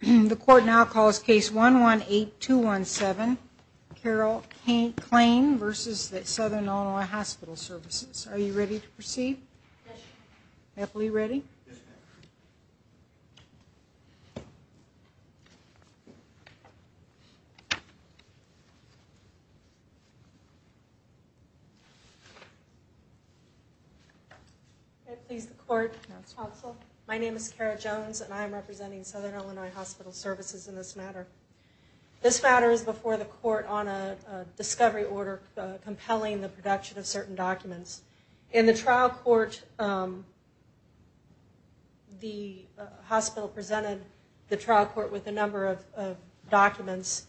The court now calls case 118217, Carol K. Klain v. Southern Illinois Hospital Services. Are you ready to proceed? Yes, ma'am. Epley, ready? Yes, ma'am. May it please the court, counsel. My name is Kara Jones and I am representing Southern Illinois Hospital Services in this matter. This matter is before the court on a discovery order compelling the production of certain documents. In the trial court, the hospital presented the trial court with a number of documents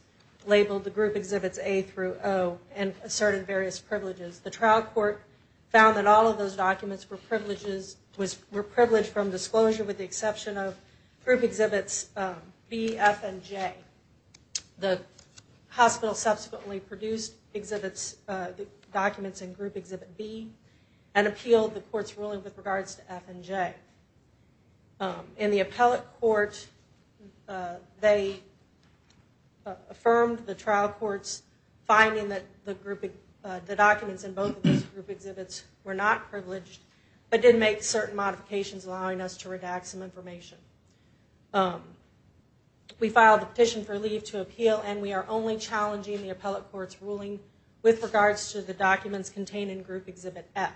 labeled the group exhibits A through O and asserted various privileges. The trial court found that all of those documents were privileged from disclosure with the exception of group exhibits B, F, and J. The hospital subsequently produced exhibits, documents in group exhibit B and appealed the court's ruling with regards to F and J. In the appellate court, they affirmed the trial court's finding that the documents in both of those group exhibits were not privileged but did make certain modifications allowing us to redact some information. We filed a petition for leave to appeal and we are only challenging the appellate court's ruling with regards to the documents contained in group exhibit F.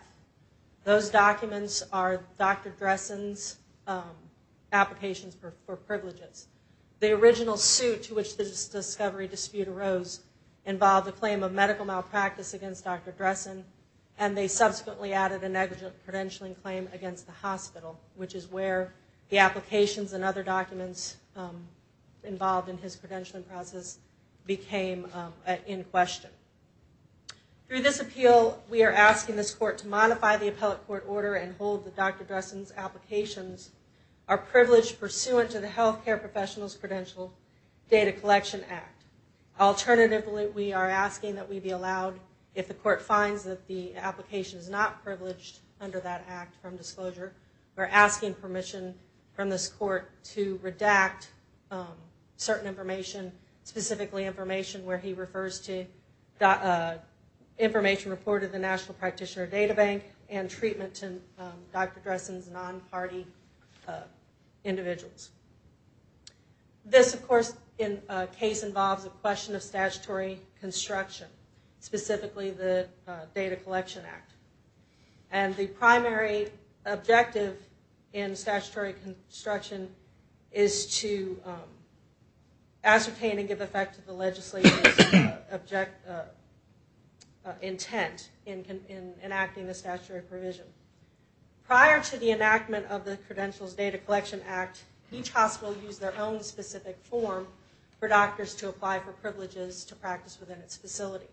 Those documents are Dr. Dressen's applications for privileges. The original suit to which this discovery dispute arose involved the claim of medical malpractice against Dr. Dressen and they subsequently added a negligent credentialing claim against the hospital, which is where the applications and other documents involved in his credentialing process became in question. Through this appeal, we are asking this court to modify the appellate court order and hold that Dr. Dressen's applications are privileged pursuant to the Healthcare Professionals Credential Data Collection Act. Alternatively, we are asking that we be allowed, if the court finds that the application is not privileged under that act from disclosure, we're asking permission from this court to redact certain information, specifically information where he refers to information reported to the National Practitioner Data Bank and treatment to Dr. Dressen's non-party individuals. This, of course, in a case involves a question of statutory construction, specifically the Data Collection Act. And the primary objective in statutory construction is to ascertain and give effect to the legislator's intent in enacting the statutory provision. Prior to the enactment of the Credentials Data Collection Act, each hospital used their own specific form for doctors to apply for privileges to practice within its facility.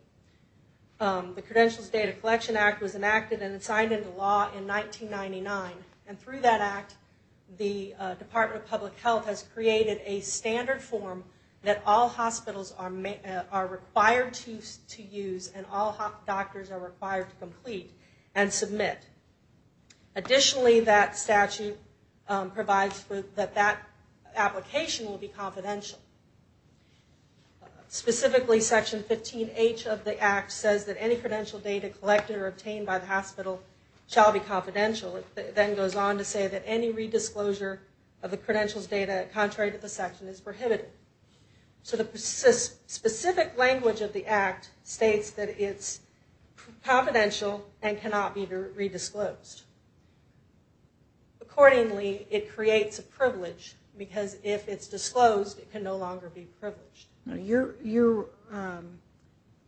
The Credentials Data Collection Act was enacted and signed into law in 1999 and through that act, the Department of Public Health has created a standard form that all hospitals are required to use and all doctors are required to complete and submit. Additionally, that statute provides that that application will be confidential. Specifically, Section 15H of the act says that any credential data collected or obtained by the hospital shall be confidential. It then goes on to say that any redisclosure of the credentials data contrary to the section is prohibited. So the specific language of the act states that it's confidential and cannot be redisclosed. Accordingly, it creates a privilege because if it's disclosed, it can no longer be privileged. You're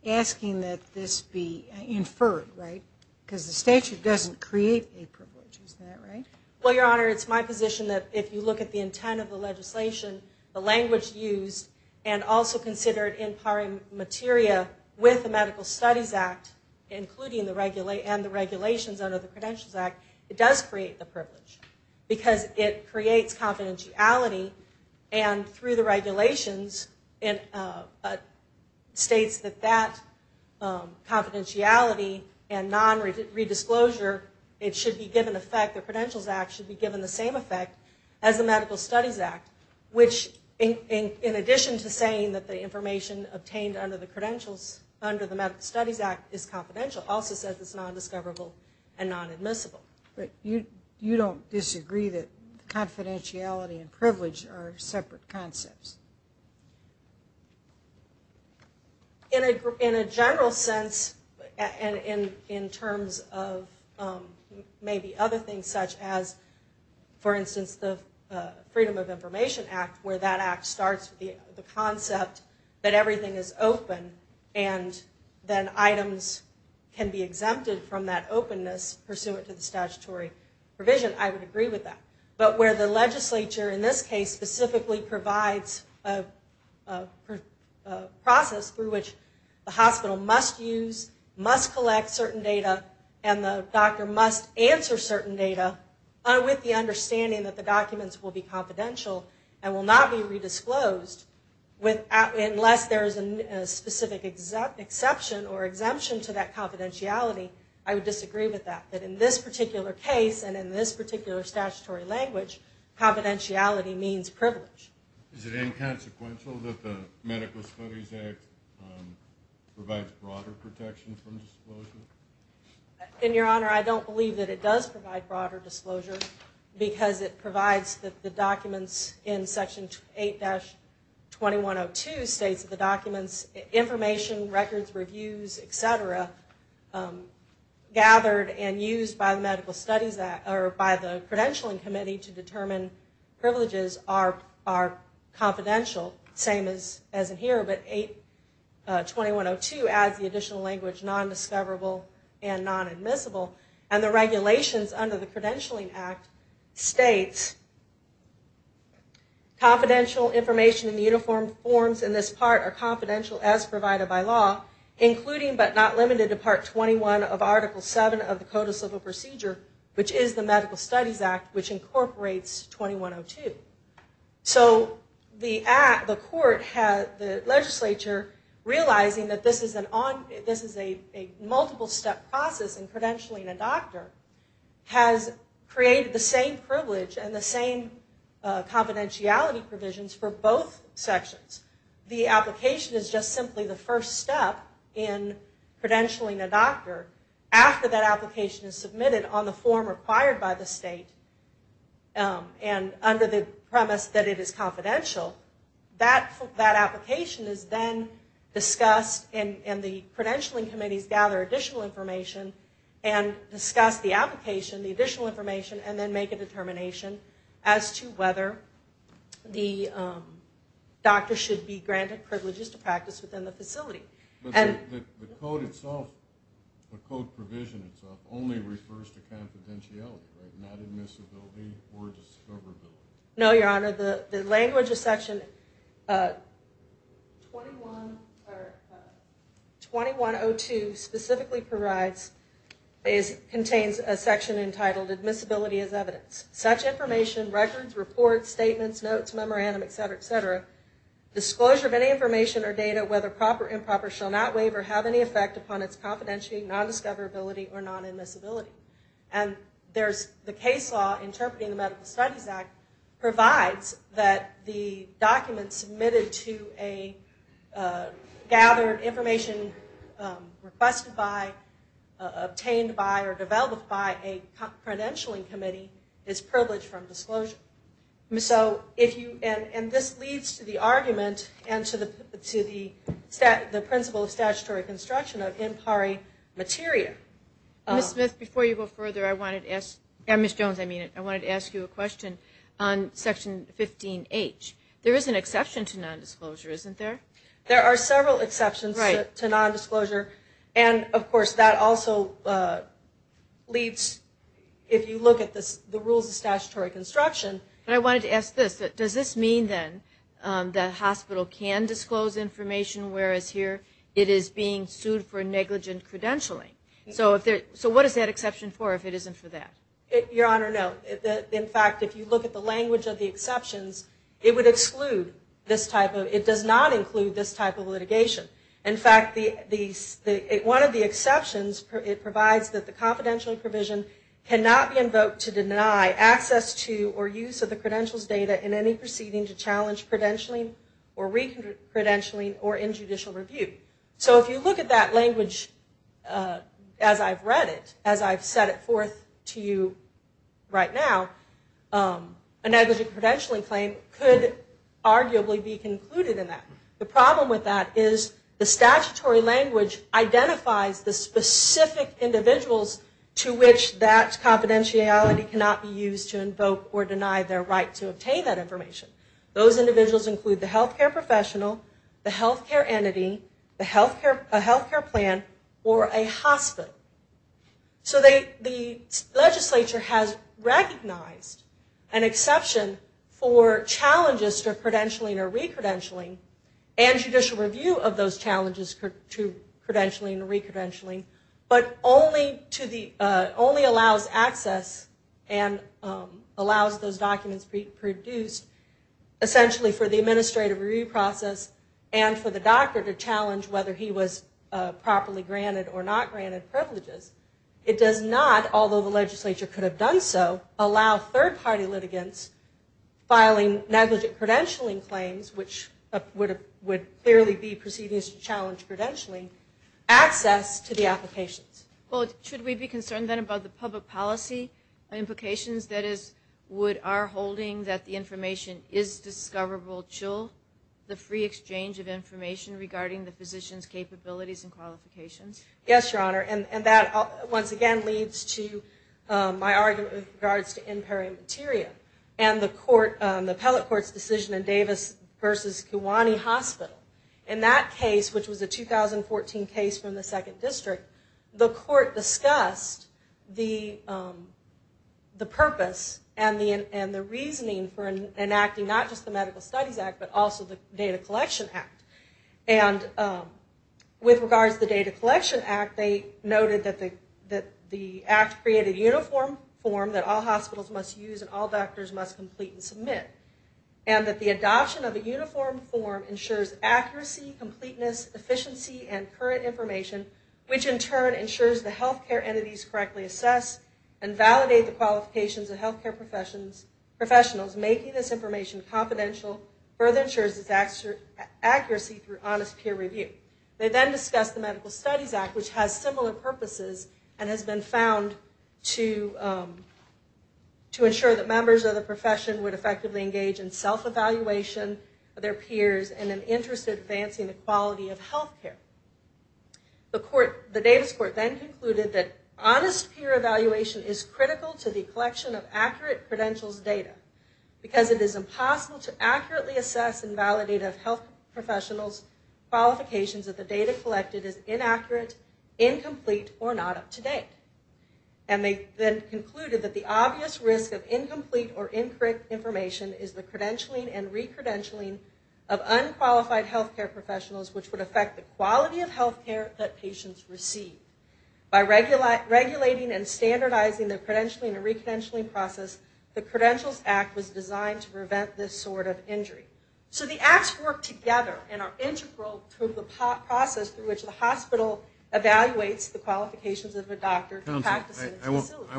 asking that this be inferred, right? Because the statute doesn't create a privilege, is that right? Well, Your Honor, it's my position that if you look at the intent of the legislation, the language used, and also considered in par materia with the Medical Studies Act, including the regulations under the Credentials Act, it does create the privilege because it creates confidentiality and through the regulations, it states that that confidentiality and non-redisclosure, it should be given effect, the Credentials Act should be given the same effect as the Medical Studies Act, which in addition to saying that the information obtained under the Medical Studies Act is confidential, also says it's non-discoverable and non-admissible. But you don't disagree that confidentiality and privilege are separate concepts? In a general sense, and in terms of maybe other things such as, for instance, the Freedom of Information Act, where that act starts with the concept that everything is open and then items can be exempted from that openness pursuant to the statutory provision, I would agree with that. But where the legislature, in this case, specifically provides a process through which the hospital must use, must collect certain data, and the doctor must answer certain data, with the understanding that the documents will be confidential and will not be redisclosed unless there is a specific exception or exemption to that confidentiality, I would disagree with that. That in this particular case, and in this particular statutory language, confidentiality means privilege. Is it inconsequential that the Medical Studies Act provides broader protection from disclosure? In your honor, I don't believe that it does provide broader disclosure because it provides the documents in Section 8-2102 states that the documents, information, records, reviews, et cetera, gathered and used by the credentialing committee to determine privileges are confidential, the same as in here. But 8-2102 adds the additional language, non-discoverable and non-admissible. And the regulations under the Credentialing Act states, Confidential information in the uniform forms in this part are confidential as provided by law, including but not limited to Part 21 of Article 7 of the Code of Civil Procedure, which is the Medical Studies Act, which incorporates 2102. So the court, the legislature, realizing that this is a multiple-step process in credentialing a doctor, has created the same privilege and the same confidentiality provisions for both sections. The application is just simply the first step in credentialing a doctor. After that application is submitted on the form required by the state and under the premise that it is confidential, that application is then discussed and the credentialing committees gather additional information and discuss the application, the additional information, and then make a determination as to whether the doctor should be granted privileges to practice within the facility. But the code itself, the code provision itself, only refers to confidentiality, right? Not admissibility or discoverability. No, Your Honor, the language of Section 2102 specifically provides, contains a section entitled admissibility as evidence. Such information, records, reports, statements, notes, memorandum, et cetera, et cetera, disclosure of any information or data, whether proper or improper, shall not waive or have any effect upon its confidentiality, non-discoverability, or non-admissibility. And there's the case law interpreting the Medical Studies Act provides that the document submitted to a gathered information requested by, obtained by, or developed by a credentialing committee is privileged from disclosure. And this leads to the argument and to the principle of statutory construction of in pari materia. Ms. Smith, before you go further, I wanted to ask, Ms. Jones I mean, I wanted to ask you a question on Section 15H. There is an exception to non-disclosure, isn't there? There are several exceptions to non-disclosure, and of course that also leads, if you look at the rules of statutory construction. And I wanted to ask this, does this mean then that a hospital can disclose information, whereas here it is being sued for negligent credentialing? So what is that exception for if it isn't for that? Your Honor, no. In fact, if you look at the language of the exceptions, it would exclude this type of, it does not include this type of litigation. In fact, one of the exceptions, it provides that the confidentiality provision cannot be invoked to deny access to or use of the credentials data in any proceeding to challenge credentialing or re-credentialing or in judicial review. So if you look at that language as I've read it, as I've set it forth to you right now, a negligent credentialing claim could arguably be concluded in that. The problem with that is the statutory language identifies the specific individuals to which that confidentiality cannot be used to invoke or deny their right to obtain that information. Those individuals include the health care professional, the health care entity, a health care plan, or a hospital. So the legislature has recognized an exception for challenges to credentialing or re-credentialing and judicial review of those challenges to credentialing or re-credentialing, but only to the, only allows access and allows those documents to be produced. Essentially for the administrative review process and for the doctor to challenge whether he was properly granted or not granted privileges. It does not, although the legislature could have done so, allow third party litigants filing negligent credentialing claims, which would clearly be proceedings to challenge credentialing, access to the applications. Well, should we be concerned then about the public policy implications? That is, would our holding that the information is discoverable chill the free exchange of information regarding the physician's capabilities and qualifications? Yes, Your Honor, and that once again leads to my argument with regards to in peri materia and the court, the appellate court's decision in Davis versus Kiwani Hospital. In that case, which was a 2014 case from the second district, the court discussed the purpose of the decision, and the reasoning for enacting not just the Medical Studies Act, but also the Data Collection Act. And with regards to the Data Collection Act, they noted that the act created a uniform form that all hospitals must use and all doctors must complete and submit. And that the adoption of a uniform form ensures accuracy, completeness, efficiency, and current information, which in turn ensures the healthcare entities correctly assess and validate the qualifications of healthcare professionals. Making this information confidential further ensures its accuracy through honest peer review. They then discussed the Medical Studies Act, which has similar purposes and has been found to ensure that members of the profession would effectively engage in self-evaluation of their peers and an interest in advancing the quality of healthcare. The Davis court then concluded that honest peer evaluation is critical to the collection of accurate credentials data, because it is impossible to accurately assess and validate a health professional's qualifications if the data collected is inaccurate, incomplete, or not up to date. And they then concluded that the obvious risk of incomplete or incorrect information is the credentialing and recredentialing of unqualified healthcare professionals, which would affect the quality of healthcare that patients receive. By regulating and standardizing the credentialing and recredentialing process, the Credentials Act was designed to prevent this sort of injury. So the acts work together and are integral to the process through which the hospital evaluates the qualifications of a doctor practicing in a facility.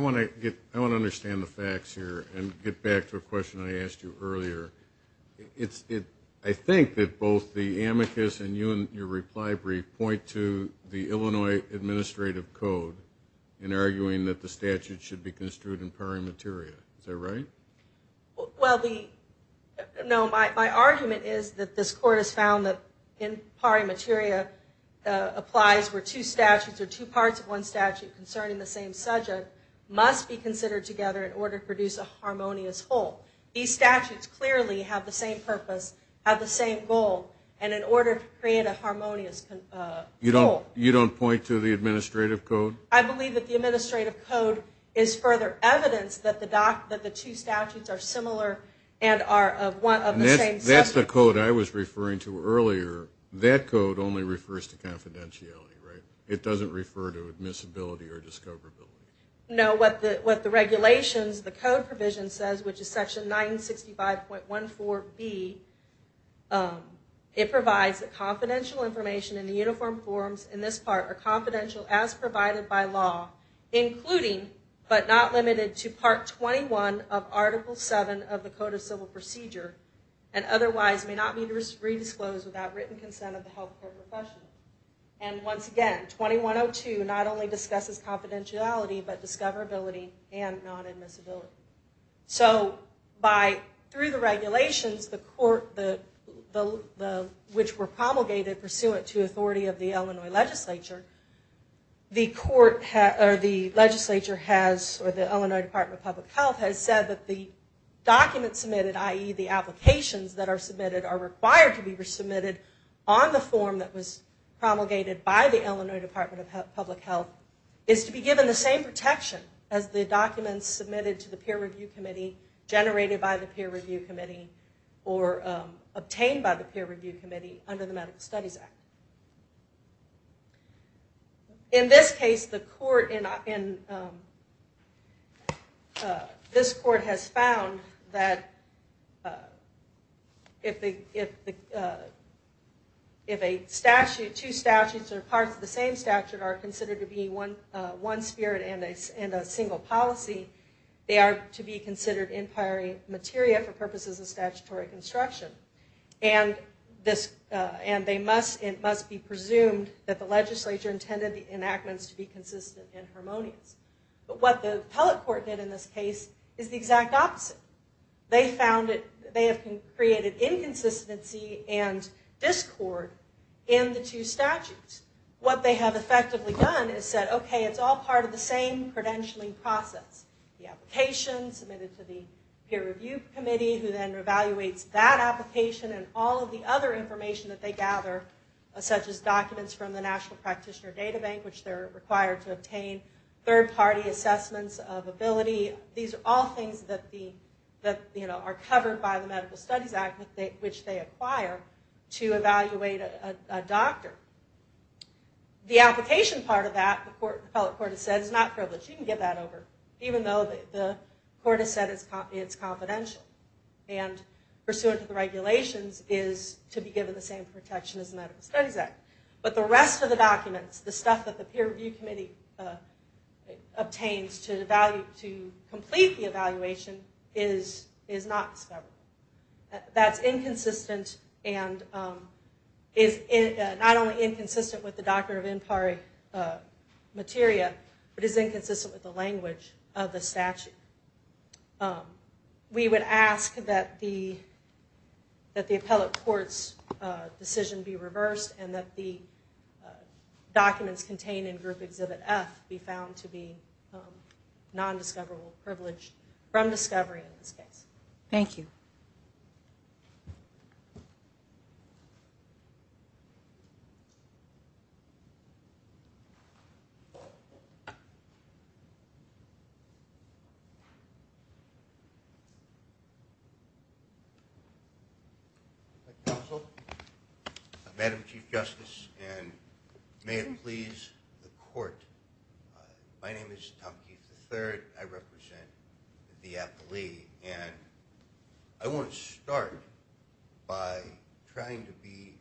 I want to understand the facts here and get back to a question I asked you earlier. I think that both the amicus and your reply brief point to the Illinois Administrative Code in arguing that the statute should be construed in pari materia. Is that right? Well, no, my argument is that this court has found that in pari materia applies where two statutes or two parts of one statute concerning the same subject must be considered together in order to produce a harmonious whole. These statutes clearly have the same purpose, have the same goal, and in order to create a harmonious whole. You don't point to the Administrative Code? I believe that the Administrative Code is further evidence that the two statutes are similar and are of the same subject. That's the code I was referring to earlier. That code only refers to confidentiality, right? It doesn't refer to admissibility or discoverability. You know what the regulations, the code provision says, which is section 965.14B. It provides that confidential information in the uniform forms in this part are confidential as provided by law, including but not limited to part 21 of article 7 of the Code of Civil Procedure and otherwise may not be redisclosed without written consent of the health care professional. And once again, 2102 not only discusses confidentiality, but discoverability and non-admissibility. So by, through the regulations, the court, which were promulgated pursuant to authority of the Illinois legislature, the court, or the legislature has, or the Illinois Department of Public Health has said that the documents submitted, i.e. the applications that are submitted are required to be submitted on the form that was submitted to the court. And what has been promulgated by the Illinois Department of Public Health is to be given the same protection as the documents submitted to the Peer Review Committee, generated by the Peer Review Committee, or obtained by the Peer Review Committee under the Medical Studies Act. In this case the court, this court has found that if a statute changes, that the procedure changes and the application changes. If the two statutes are parts of the same statute, are considered to be one spirit and a single policy, they are to be considered in priori materia for purposes of statutory construction. And they must be presumed that the legislature intended the enactments to be consistent and harmonious. But what the appellate court did in this case is the exact opposite. They found that they have created inconsistency and discord in the two statutes. What they have effectively done is said, okay, it's all part of the same credentialing process. The application submitted to the Peer Review Committee, who then evaluates that application and all of the other information that they gather, such as documents from the National Practitioner Data Bank, which they're required to obtain, third party assessments of ability, these are all things that are covered by the Medical Studies Act, which they acquire to evaluate a doctor. The application part of that, the appellate court has said, is not privileged. You can get that over, even though the court has said it's confidential. And pursuant to the regulations is to be given the same protection as the Medical Studies Act. But the rest of the documents, the stuff that the Peer Review Committee obtains to evaluate, to complete the evaluation, is not discovered. That's inconsistent and is not only inconsistent with the doctrine of in pari materia, but is inconsistent with the language of the statute. We would ask that the appellate court's decision be found to be non-discoverable, privileged from discovery in this case. Thank you. Tom Keith. Madam Chief Justice, and may it please the court, my name is Tom Keith III. I represent the appellee. And I want to start by saying that I want to start by trying to be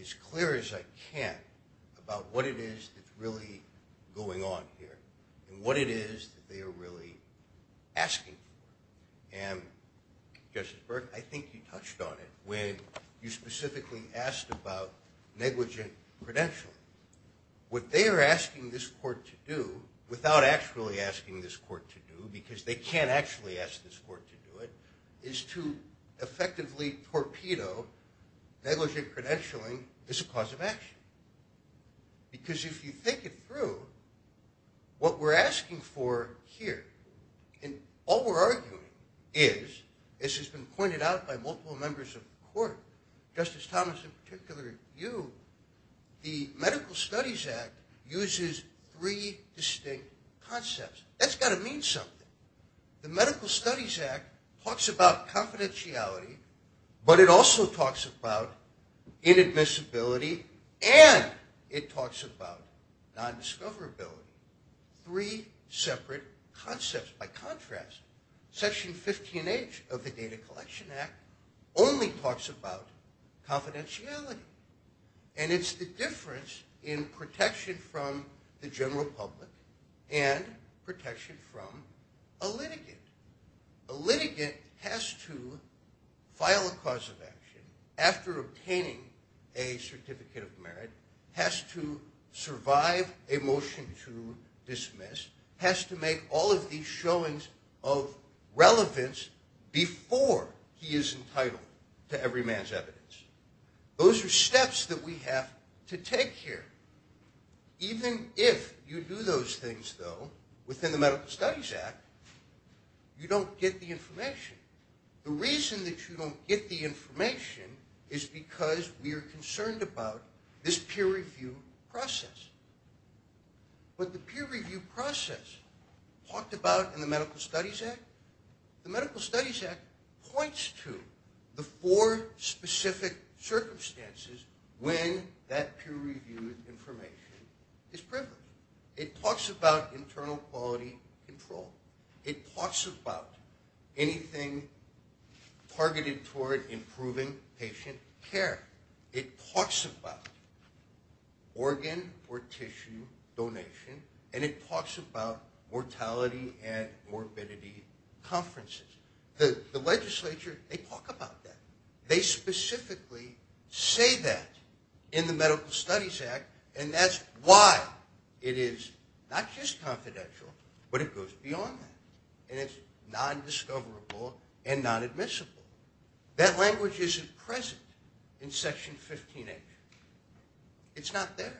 as clear as I can about what it is that's really going on here, and what it is that they are really asking for. And, Justice Byrd, I think you touched on it, when you specifically asked about negligent credential. What they are asking this court to do, without actually asking this court to do, because they can't actually ask this court to do it, is to effectively provide them with the evidence that this torpedo, negligent credentialing, is a cause of action. Because if you think it through, what we're asking for here, and all we're arguing is, as has been pointed out by multiple members of the court, Justice Thomas, in particular you, the Medical Studies Act uses three distinct concepts. That's got to mean something. The Medical Studies Act talks about confidentiality, but it also talks about inadmissibility, and it talks about nondiscoverability. Three separate concepts. By contrast, Section 15H of the Data Collection Act only talks about confidentiality. And it's the difference in protection from the general public, and protection from a general public, that this is a cause of action, after obtaining a certificate of merit, has to survive a motion to dismiss, has to make all of these showings of relevance before he is entitled to every man's evidence. Those are steps that we have to take here. Even if you do those things, though, within the Medical Studies Act, you don't get the information. The reason that you don't get the information is because we are concerned about this peer review process. What the peer review process talked about in the Medical Studies Act, the Medical Studies Act points to the four specific circumstances when that peer review information is privileged. It talks about internal quality control. It talks about anything targeted toward improving patient care. It talks about organ or tissue donation, and it talks about mortality and morbidity conferences. The legislature, they talk about that. They specifically say that in the Medical Studies Act, and that's why it is not just confidential, but it goes beyond that. And it's non-discoverable and non-admissible. That language isn't present in Section 15A. It's not there.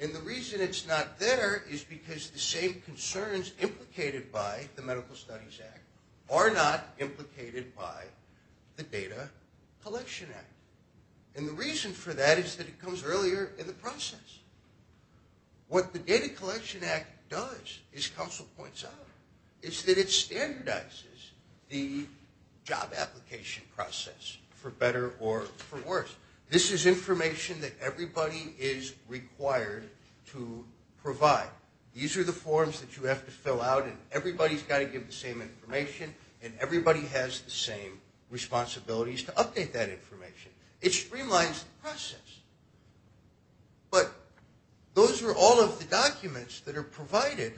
And the reason it's not there is because the same concerns implicated by the Medical Studies Act are not implicated by the Data Collection Act. And the reason for that is that it comes earlier in the process. And the reason for that is because what the Data Collection Act does, as Council points out, is that it standardizes the job application process for better or for worse. This is information that everybody is required to provide. These are the forms that you have to fill out, and everybody's got to give the same information, and everybody has the same responsibilities to update that information. It streamlines the process. But those are all of the documents that are provided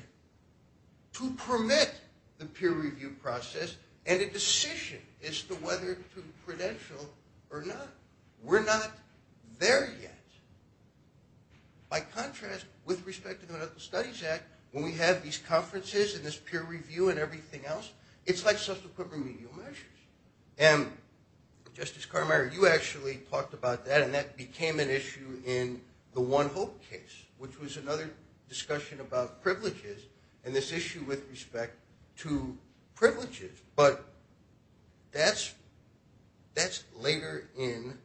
to permit the peer review process and a decision as to whether it's credentialed or not. We're not there yet. By contrast, with respect to the Medical Studies Act, when we have these conferences and this peer review and everything else, it's like social program review measures. And Justice Carmichael, you actually talked about that, and that became an issue in the One Hope case, which was another discussion about privileges and this issue with respect to privileges. But that's later in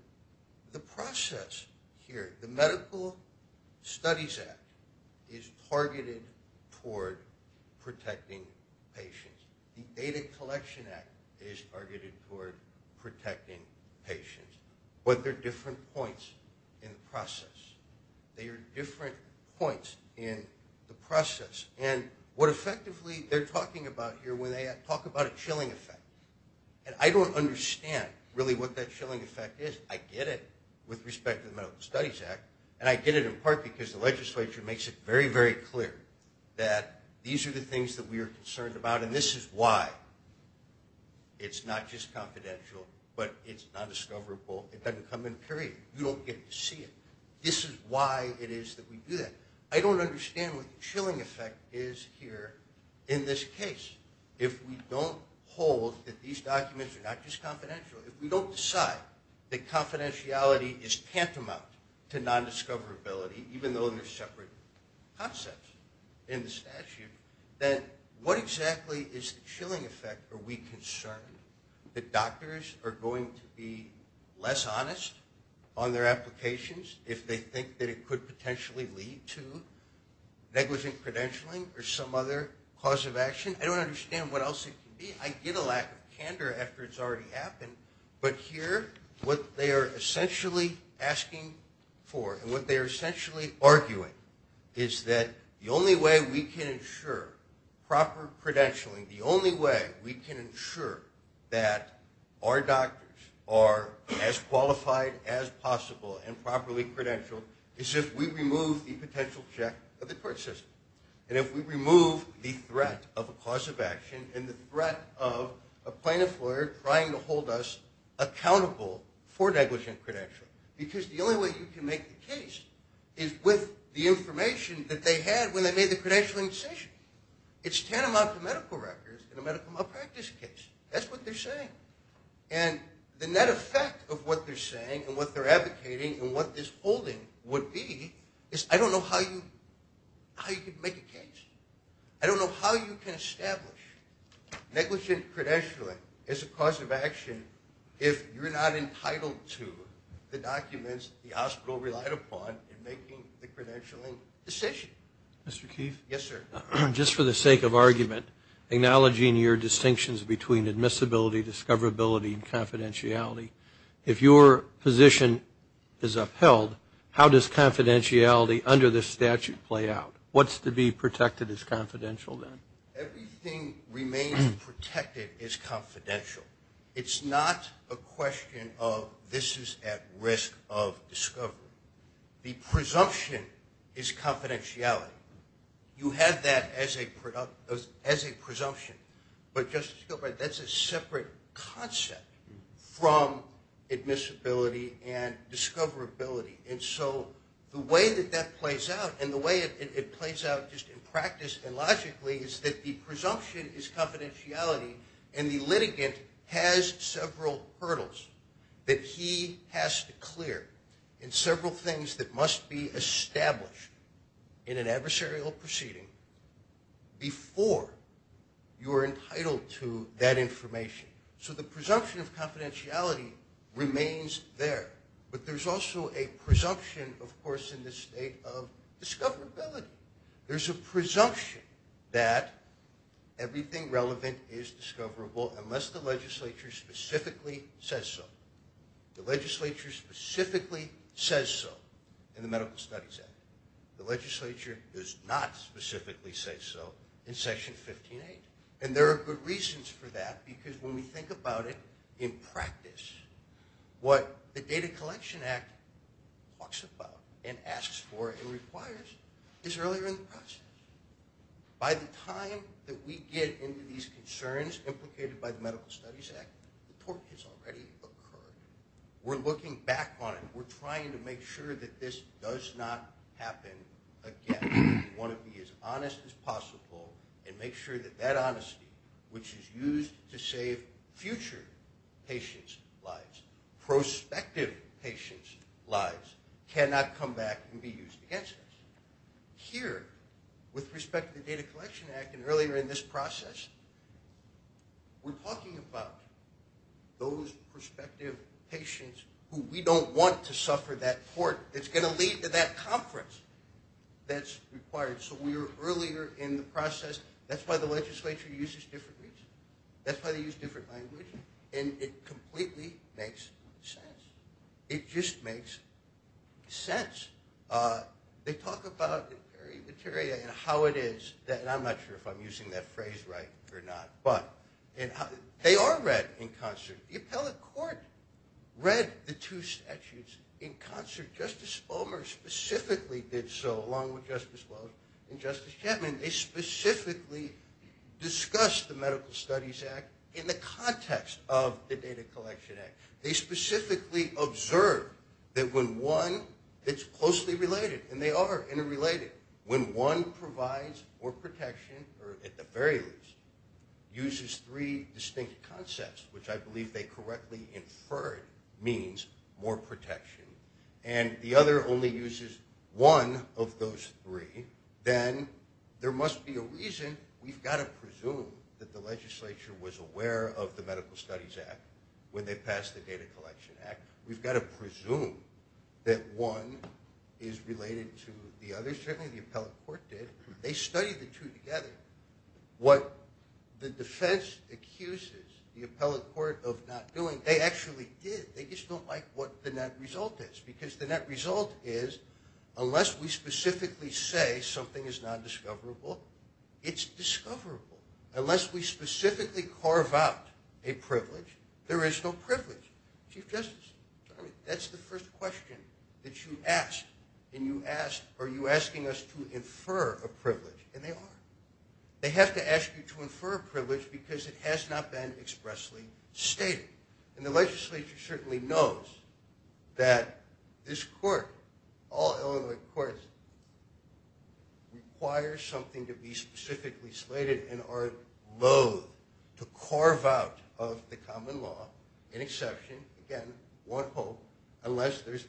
the process here. The Medical Studies Act is targeted toward protecting patients. The Data Collection Act is targeted toward protecting patients. But there are different points in the process. There are different points in the process. And what effectively they're talking about here when they talk about a chilling effect. And I don't understand really what that chilling effect is. I get it with respect to the Medical Studies Act, and I get it in part because the legislature makes it very, very clear that these are the things that we are concerned about, and this is why it's not just confidential, but it's non-discoverable. It doesn't come in period. You don't get to see it. This is why it is that we do that. I don't understand what the chilling effect is here in this case. If we don't hold that these documents are not just confidential, if we don't decide that confidentiality is tantamount to non-discoverability, even though they're separate concepts in the statute, then what exactly is the chilling effect? Are we concerned that doctors are going to be less honest on their applications if they think that it could potentially lead to negligent credentialing or some other cause of action? I don't understand what else it could be. I get a lack of candor after it's already happened. But here, what they are essentially asking for, and what they are essentially arguing, is that the only way we can ensure proper credentialing, the only way we can ensure that our doctors are as qualified as possible and properly credentialed, is if we remove the potential check of the court system, and if we remove the threat of a cause of action and the threat of a plaintiff lawyer trying to hold us accountable for negligent credentialing. Because the only way you can make the case is with the information that they had when they made the credentialing decision. It's tantamount to medical records in a medical malpractice case. That's what they're saying. And the net effect of what they're saying and what they're advocating and what this holding would be is I don't know how you can make a case. I don't know how you can establish negligent credentialing as a cause of action if you're not entitled to the information that the hospital relied upon in making the credentialing decision. Mr. Keefe? Yes, sir. Just for the sake of argument, acknowledging your distinctions between admissibility, discoverability, and confidentiality, if your position is upheld, how does confidentiality under this statute play out? What's to be protected as confidential then? Everything remains protected as confidential. It's not a question of this is at risk of discovery. The presumption is confidentiality. You have that as a presumption. But that's a separate concept from admissibility and discoverability. And so the way that that plays out and the way it plays out just in practice and logically is that the presumption is confidentiality and the litigant has several hurdles that he has to clear and several things that must be established in an adversarial proceeding before you are entitled to that information. So the presumption of discoverability. There's a presumption that everything relevant is discoverable unless the legislature specifically says so. The legislature specifically says so in the Medical Studies Act. The legislature does not specifically say so in Section 15.8. And there are good reasons for that because when we think about it in practice, what the Data Collection Act talks about and asks for and requires is that the data collection act requires is earlier in the process. By the time that we get into these concerns implicated by the Medical Studies Act, the torque has already occurred. We're looking back on it. We're trying to make sure that this does not happen again. We want to be as honest as possible and make sure that that honesty, which is used to save future patients' lives, prospective patients' lives, cannot come back and be used against us. Here, with respect to the Data Collection Act and earlier in this process, we're talking about those prospective patients who we don't want to suffer that torque that's going to lead to that conference that's required. So we are earlier in the process. That's why the legislature uses different reasons. That's why they use different language. And it completely makes sense. It just makes sense. They talk about the very material and how it is. And I'm not sure if I'm using that phrase right or not. But they are read in concert. The appellate court read the two statutes in concert. Justice Bomer specifically did so, along with Justice Lohse and Justice Chapman. They specifically discussed the Medical Studies Act in the context of the Data Collection Act. They specifically observed that when one, it's closely related. And they are interrelated. When one provides more protection, or at the very least, uses three distinct concepts, which I believe they correctly inferred means more protection, and the other only uses one of those three, then there must be a reason. We've got to presume that the legislature was aware of the Medical Studies Act when they passed the Data Collection Act. We've got to presume that one is related to the other. Certainly the appellate court did. They studied the two together. What the defense accuses the appellate court of not doing, they actually did. They just don't like what the net result is. Because the net result is, unless we specifically say something is not discoverable, it's discoverable. Unless we specifically carve out a privilege, there is no privilege. Chief Justice, that's the first question that you asked. And you asked, are you asking us to infer a privilege? And they are. They have to ask you to infer a privilege because it has not been expressly stated. And the legislature certainly knows that this court, all Illinois courts, requires something to be specifically slated and are loathe to carve out of the common law, an exception, again, one hope, unless there's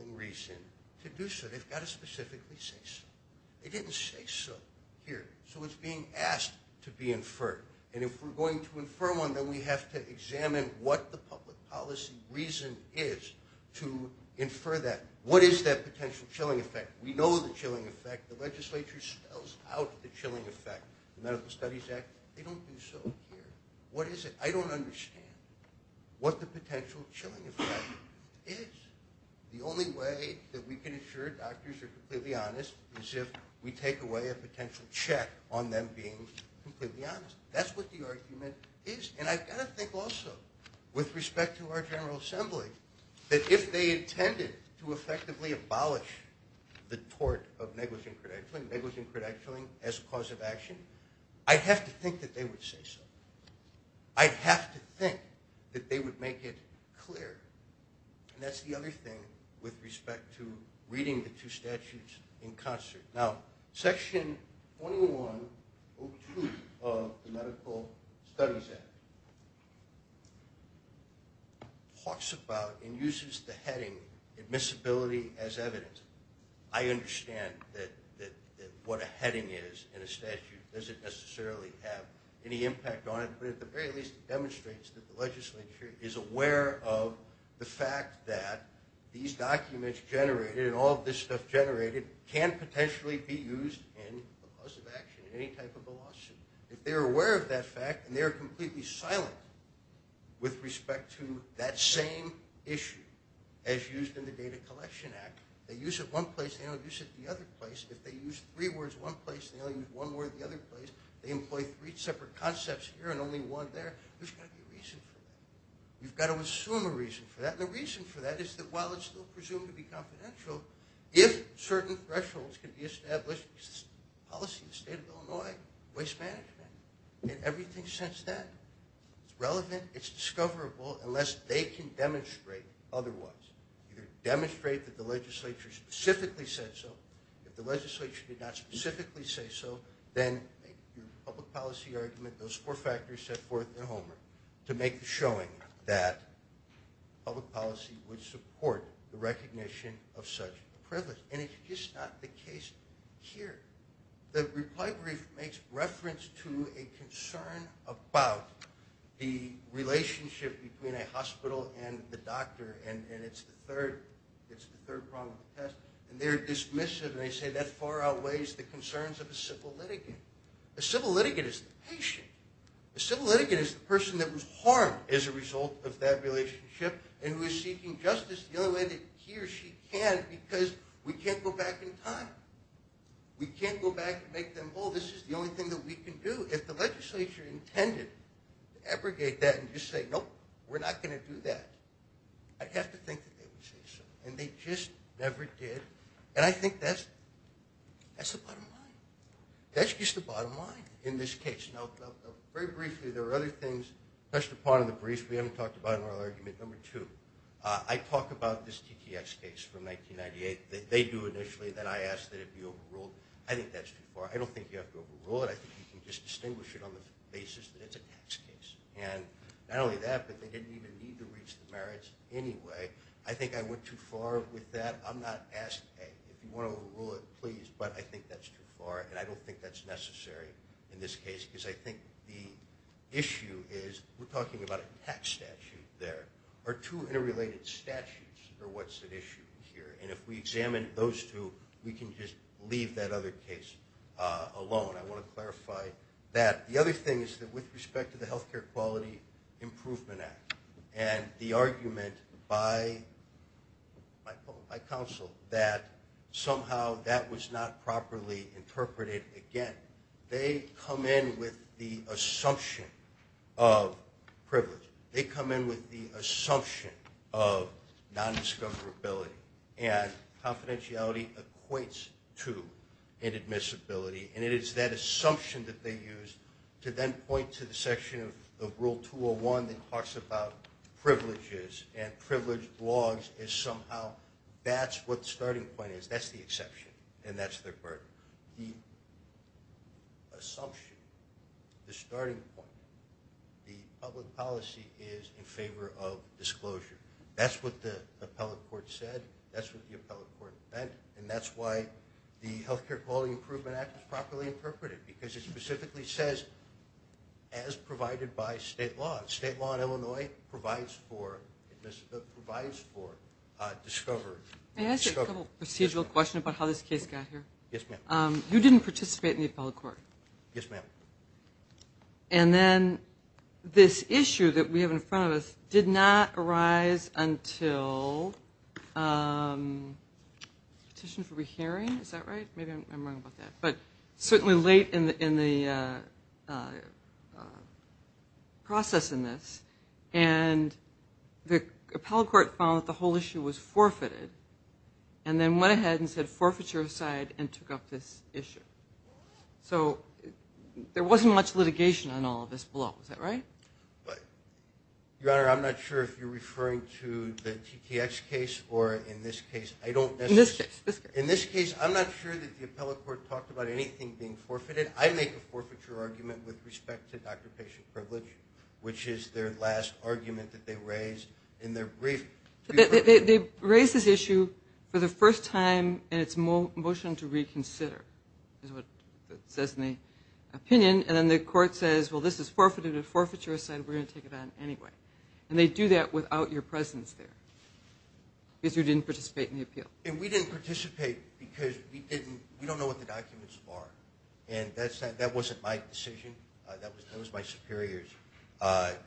a reason to do so. They've got to specifically say so. They didn't say so here. So it's being asked to be inferred. And if we're going to infer one, then we have to examine what the public policy reason is to infer that. What is that potential chilling effect? We know the chilling effect. The legislature spells out the chilling effect. The Medical Studies Act. They don't do so here. What is it? I don't understand what the potential chilling effect is. The only way that we can ensure doctors are completely honest is if we take away a potential check on them being completely honest. That's what the argument is. And I've got to think also, with respect to our General Assembly, that if they intended to effectively abolish the tort of negligent credentialing, as a cause of action, I'd have to think that they would say so. I'd have to think that they would make it clear. And that's the other thing with respect to reading the two statutes in concert. Now, Section 2102 of the Medical Studies Act talks about and uses the heading admissibility as evidence. I understand what a heading is in a statute. Does it necessarily have any impact on it? But at the very least, it demonstrates that the legislature is aware of the fact that these documents generated, and all of this stuff generated, can potentially be used in a cause of action in any type of a lawsuit. If they're aware of that fact, and they're completely silent with respect to that same issue as used in the Data Collection Act, they use it one place, they don't use it the other place. If they use three words one place, they only use one word the other place. They employ three separate concepts here and only one there. There's got to be a reason for that. You've got to assume a reason for that. And the reason for that is that while it's still presumed to be confidential, if certain thresholds can be established, policy in the state of Illinois, waste management, and everything since then, it's relevant, it's discoverable, unless they can demonstrate otherwise. Either demonstrate that the legislature specifically said so, if the legislature did not specifically say so, then your public policy argument, those four factors set forth in Homer to make the showing that public policy would support the recognition of such a privilege. And it's just not the case here. The reply brief makes reference to a concern about the relationship between a hospital and the doctor. And it's the third problem of the test. And they're dismissive and they say that far outweighs the concerns of a civil litigant. A civil litigant is the patient. A civil litigant is the person that was harmed as a result of that relationship and who is seeking justice the only way that he or she can because we can't go back in time. We can't go back and make them whole. This is the only thing that we can do. If the legislature intended to abrogate that and just say, nope, we're not going to do that, I'd have to think that they would say so. And they just never did. And I think that's the bottom line. That's just the bottom line in this case. Very briefly, there are other things touched upon in the briefs we haven't talked about in our argument. Number two, I talk about this TTX case from 1998. They do initially. Then I ask that it be overruled. I think that's too far. I don't think you have to overrule it. I think you can just distinguish it on the basis that it's a tax case. And not only that, but they didn't even need to reach the merits anyway. I think I went too far with that. I'm not asking, hey, if you want to overrule it, please, but I think that's too far and I don't think that's necessary in this case because I think the issue is we're talking about a tax statute there. Are two interrelated statutes or what's at issue here? And if we examine those two, we can just leave that other case alone. I want to clarify that. The other thing is that with respect to the Health Care Quality Improvement Act and the argument by counsel that somehow that was not properly interpreted again, they come in with the assumption of privilege. They come in with the assumption of nondiscoverability. And confidentiality equates to inadmissibility. And it is that assumption that they use to then point to the section of Rule 201 that talks about privileges and privileged logs as somehow that's what the starting point is. That's the exception and that's their burden. The assumption, the starting point, the public policy is in favor of disclosure. That's what the appellate court said. That's what the appellate court meant. And that's why the Health Care Quality Improvement Act is properly interpreted because it specifically says as provided by state law. State law in Illinois provides for discovery. May I ask a couple procedural questions about how this case got here? Yes, ma'am. You didn't participate in the appellate court. Yes, ma'am. And then this issue that we have in front of us did not arise until petition for rehearing. Is that right? Maybe I'm wrong about that. But certainly late in the process in this. And the appellate court found that the whole issue was forfeited and then went ahead and said forfeiture aside and took up this issue. So there wasn't much litigation on all of this below. Is that right? Your Honor, I'm not sure if you're referring to the TTX case or in this case. In this case. In this case, I'm not sure that the appellate court talked about anything being forfeited. I make a forfeiture argument with respect to doctor-patient privilege, which is their last argument that they raised in their brief. They raised this issue for the first time in its motion to reconsider, is what it says in the opinion. And then the court says, well, this is forfeited at forfeiture aside. We're going to take it on anyway. And they do that without your presence there because you didn't participate in the appeal. And we didn't participate because we don't know what the documents are. And that wasn't my decision. That was my superior's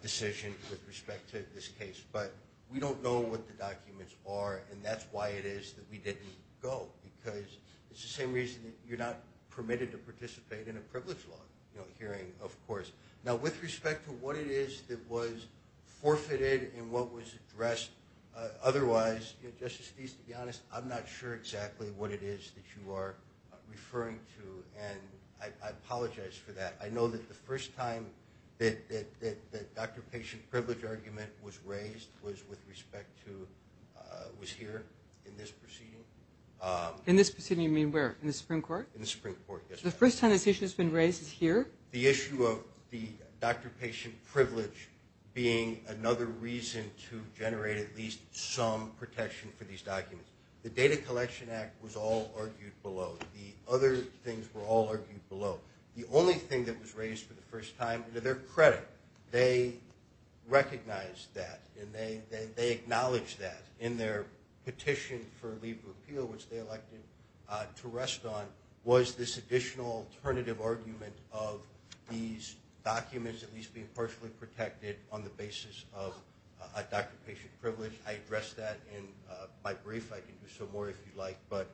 decision with respect to this case. But we don't know what the documents are, and that's why it is that we didn't go, because it's the same reason that you're not permitted to participate in a privilege law hearing, of course. Now, with respect to what it is that was forfeited and what was addressed otherwise, Justice Steeves, to be honest, I'm not sure exactly what it is that you are referring to, and I apologize for that. I know that the first time that the doctor-patient privilege argument was raised was with respect to, was here in this proceeding. In this proceeding, you mean where? In the Supreme Court? In the Supreme Court, yes. The first time this issue has been raised is here? The issue of the doctor-patient privilege being another reason to generate at least some protection for these documents. The Data Collection Act was all argued below. The other things were all argued below. The only thing that was raised for the first time, to their credit, they recognized that and they acknowledged that in their petition for legal appeal, which they elected to rest on, was this additional alternative argument of these documents at least being partially protected on the basis of a doctor-patient privilege. I addressed that in my brief. I can do some more if you'd like, but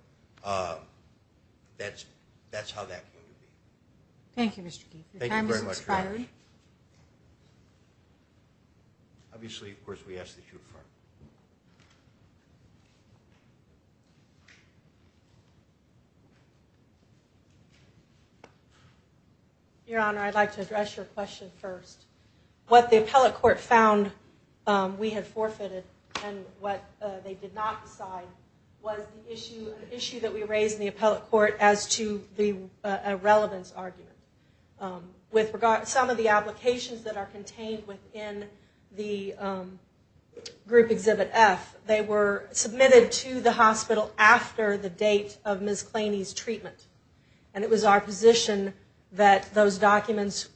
that's how that came to be. Thank you, Mr. Keith. Your time has expired. Obviously, of course, we ask that you refer. Your Honor, I'd like to address your question first. What the appellate court found we had forfeited and what they did not decide was the issue, an issue that we raised in the appellate court as to the irrelevance argument. With regard to some of the applications that are contained within the Group Exhibit F, they were submitted to the hospital after the date of Ms. Claney's treatment. It was our position that those documents,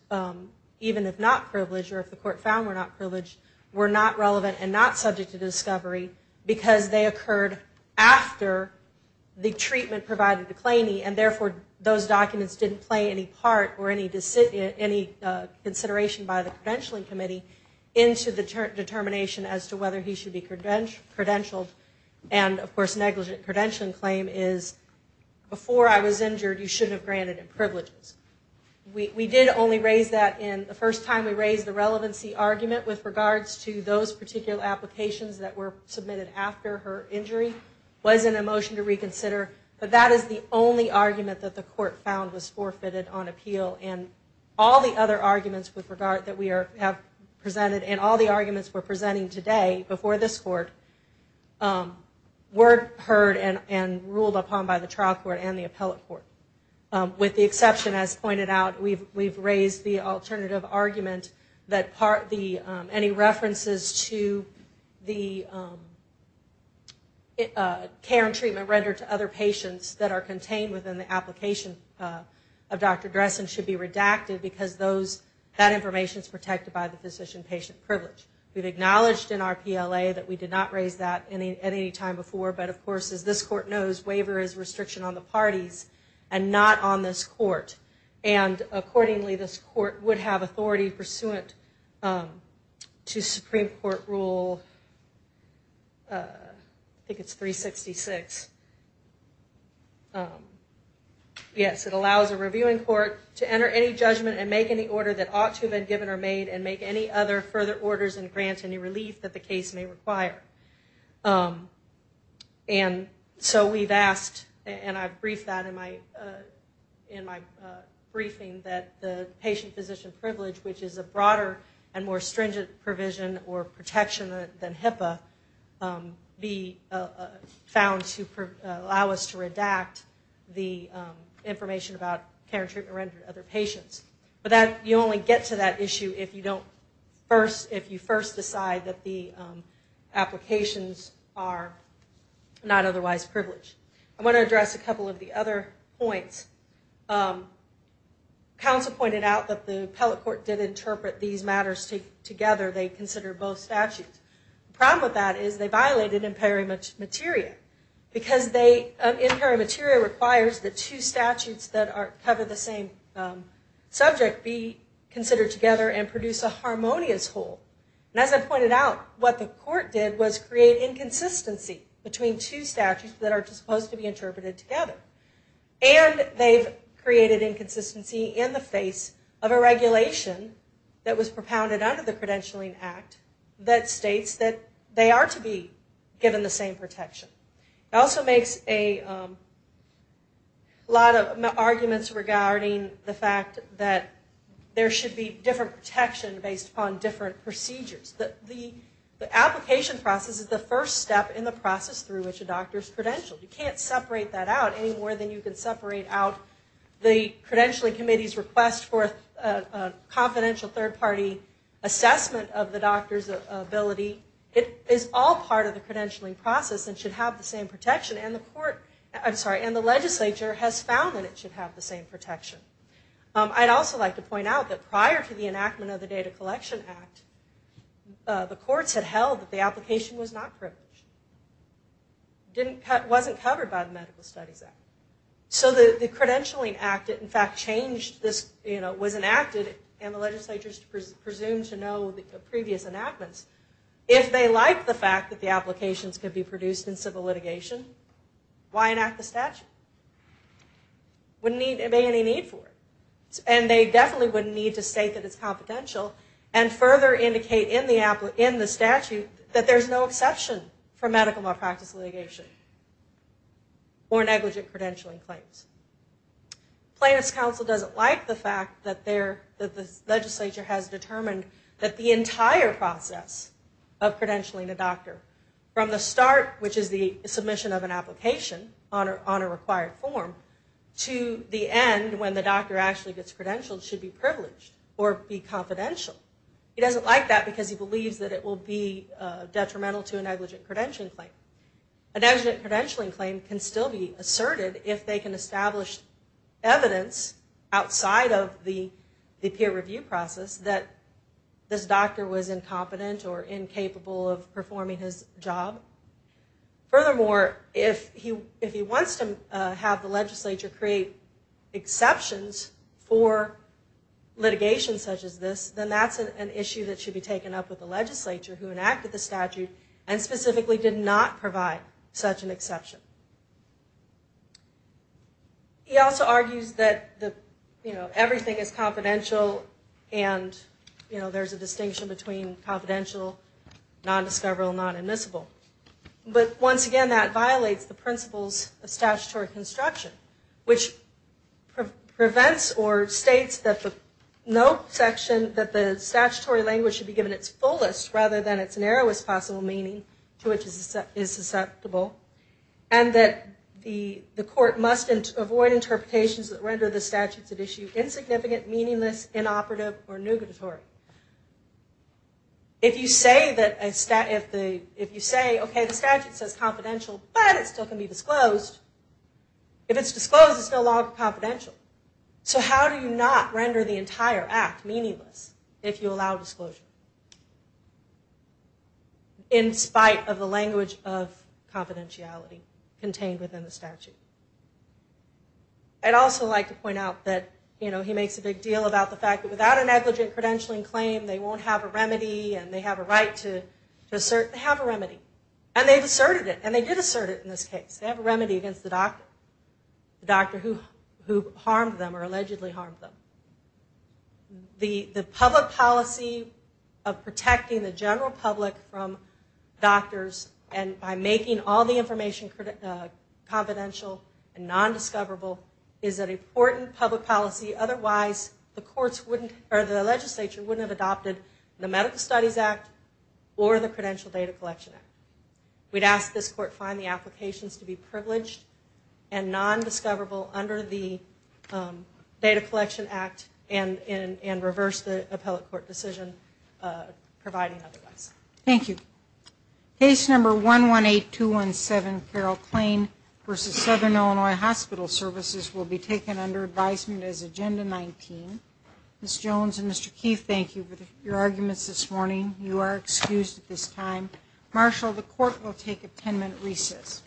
even if not privileged or if the court found were not privileged, were not relevant and not subject to discovery because they occurred after the treatment provided to Claney and, therefore, those documents didn't play any part or any consideration by the credentialing committee into the determination as to whether he should be credentialed. And, of course, negligent credentialing claim is before I was injured, you shouldn't have granted him privileges. We did only raise that in the first time we raised the relevancy argument with regards to those particular applications that were submitted after her injury. It was in a motion to reconsider, but that is the only argument that the court found was forfeited on appeal and all the other arguments with regard that we have presented and all the arguments we're presenting today before this court were heard and ruled upon by the trial court and the appellate court. With the exception, as pointed out, we've raised the alternative argument that any references to the care and treatment rendered to other patients that are contained within the application of Dr. Dressen should be redacted because that information is protected by the physician-patient privilege. We've acknowledged in our PLA that we did not raise that at any time before, but, of course, as this court knows, waiver is restriction on the parties and not on this court. Accordingly, this court would have authority pursuant to Supreme Court Rule, I think it's 366. Yes, it allows a reviewing court to enter any judgment and make any order that ought to have been given or made and make any other further orders and grant any relief that the case may require. And so we've asked, and I've briefed that in my briefing, that the patient-physician privilege, which is a broader and more stringent provision or protection than HIPAA, be found to allow us to redact the information about care and treatment rendered to other patients. But you only get to that issue if you first decide that the applications are not otherwise privileged. I want to address a couple of the other points. Counsel pointed out that the appellate court did interpret these matters together. They considered both statutes. The problem with that is they violated in peri materia because in peri materia requires the two statutes that cover the same subject be considered together and produce a harmonious whole. And as I pointed out, what the court did was create inconsistency between two statutes that are supposed to be interpreted together. And they've created inconsistency in the face of a regulation that was propounded under the Credentialing Act that states that they are to be given the same protection. It also makes a lot of arguments regarding the fact that there should be different protection based upon different procedures. The application process is the first step in the process through which a doctor is credentialed. You can't separate that out any more than you can separate out the Credentialing Committee's request for a confidential third-party assessment of the doctor's ability. It is all part of the credentialing process and should have the same protection. And the court, I'm sorry, and the legislature has found that it should have the same protection. I'd also like to point out that prior to the enactment of the Data Collection Act, the courts had held that the application was not privileged. It wasn't covered by the Medical Studies Act. So the Credentialing Act, in fact, changed this. And the legislature is presumed to know the previous enactments. If they like the fact that the applications could be produced in civil litigation, why enact the statute? There wouldn't be any need for it. And they definitely wouldn't need to state that it's confidential and further indicate in the statute that there's no exception for medical malpractice litigation or negligent credentialing claims. Plaintiff's counsel doesn't like the fact that the legislature has determined that the entire process of credentialing a doctor, from the start, which is the submission of an application on a required form, to the end, when the doctor actually gets credentialed, should be privileged or be confidential. He doesn't like that because he believes that it will be detrimental to a negligent credentialing claim. A negligent credentialing claim can still be asserted if they can establish evidence outside of the peer review process that this doctor was incompetent or incapable of performing his job. Furthermore, if he wants to have the legislature create exceptions for litigation such as this, then that's an issue that should be taken up with the legislature who enacted the statute and specifically did not provide such an exception. He also argues that everything is confidential and there's a distinction between confidential, non-discoverable, and non-admissible. But once again, that violates the principles of statutory construction, which prevents or states that the statutory language should be given its fullest rather than its narrowest possible meaning to which it is susceptible, and that the court must avoid interpretations that render the statutes at issue insignificant, meaningless, inoperative, or nugatory. If you say, okay, the statute says confidential, but it still can be disclosed, if it's disclosed, it's no longer confidential. So how do you not render the entire act meaningless if you allow disclosure? In spite of the language of confidentiality contained within the statute. I'd also like to point out that, you know, he makes a big deal about the fact that without a negligent credentialing claim, they won't have a remedy and they have a right to assert they have a remedy. And they've asserted it, and they did assert it in this case. They have a remedy against the doctor, the doctor who harmed them or allegedly harmed them. The public policy of protecting the general public from doctors and by making all the information confidential and nondiscoverable is an important public policy. Otherwise, the courts wouldn't, or the legislature wouldn't have adopted the Medical Studies Act or the Credential Data Collection Act. We'd ask this court find the applications to be privileged and nondiscoverable under the Data Collection Act and reverse the appellate court decision providing otherwise. Thank you. Case number 118217, Carole Klain v. Southern Illinois Hospital Services will be taken under advisement as Agenda 19. Ms. Jones and Mr. Keith, thank you for your arguments this morning. You are excused at this time. Marshall, the court will take a 10-minute recess.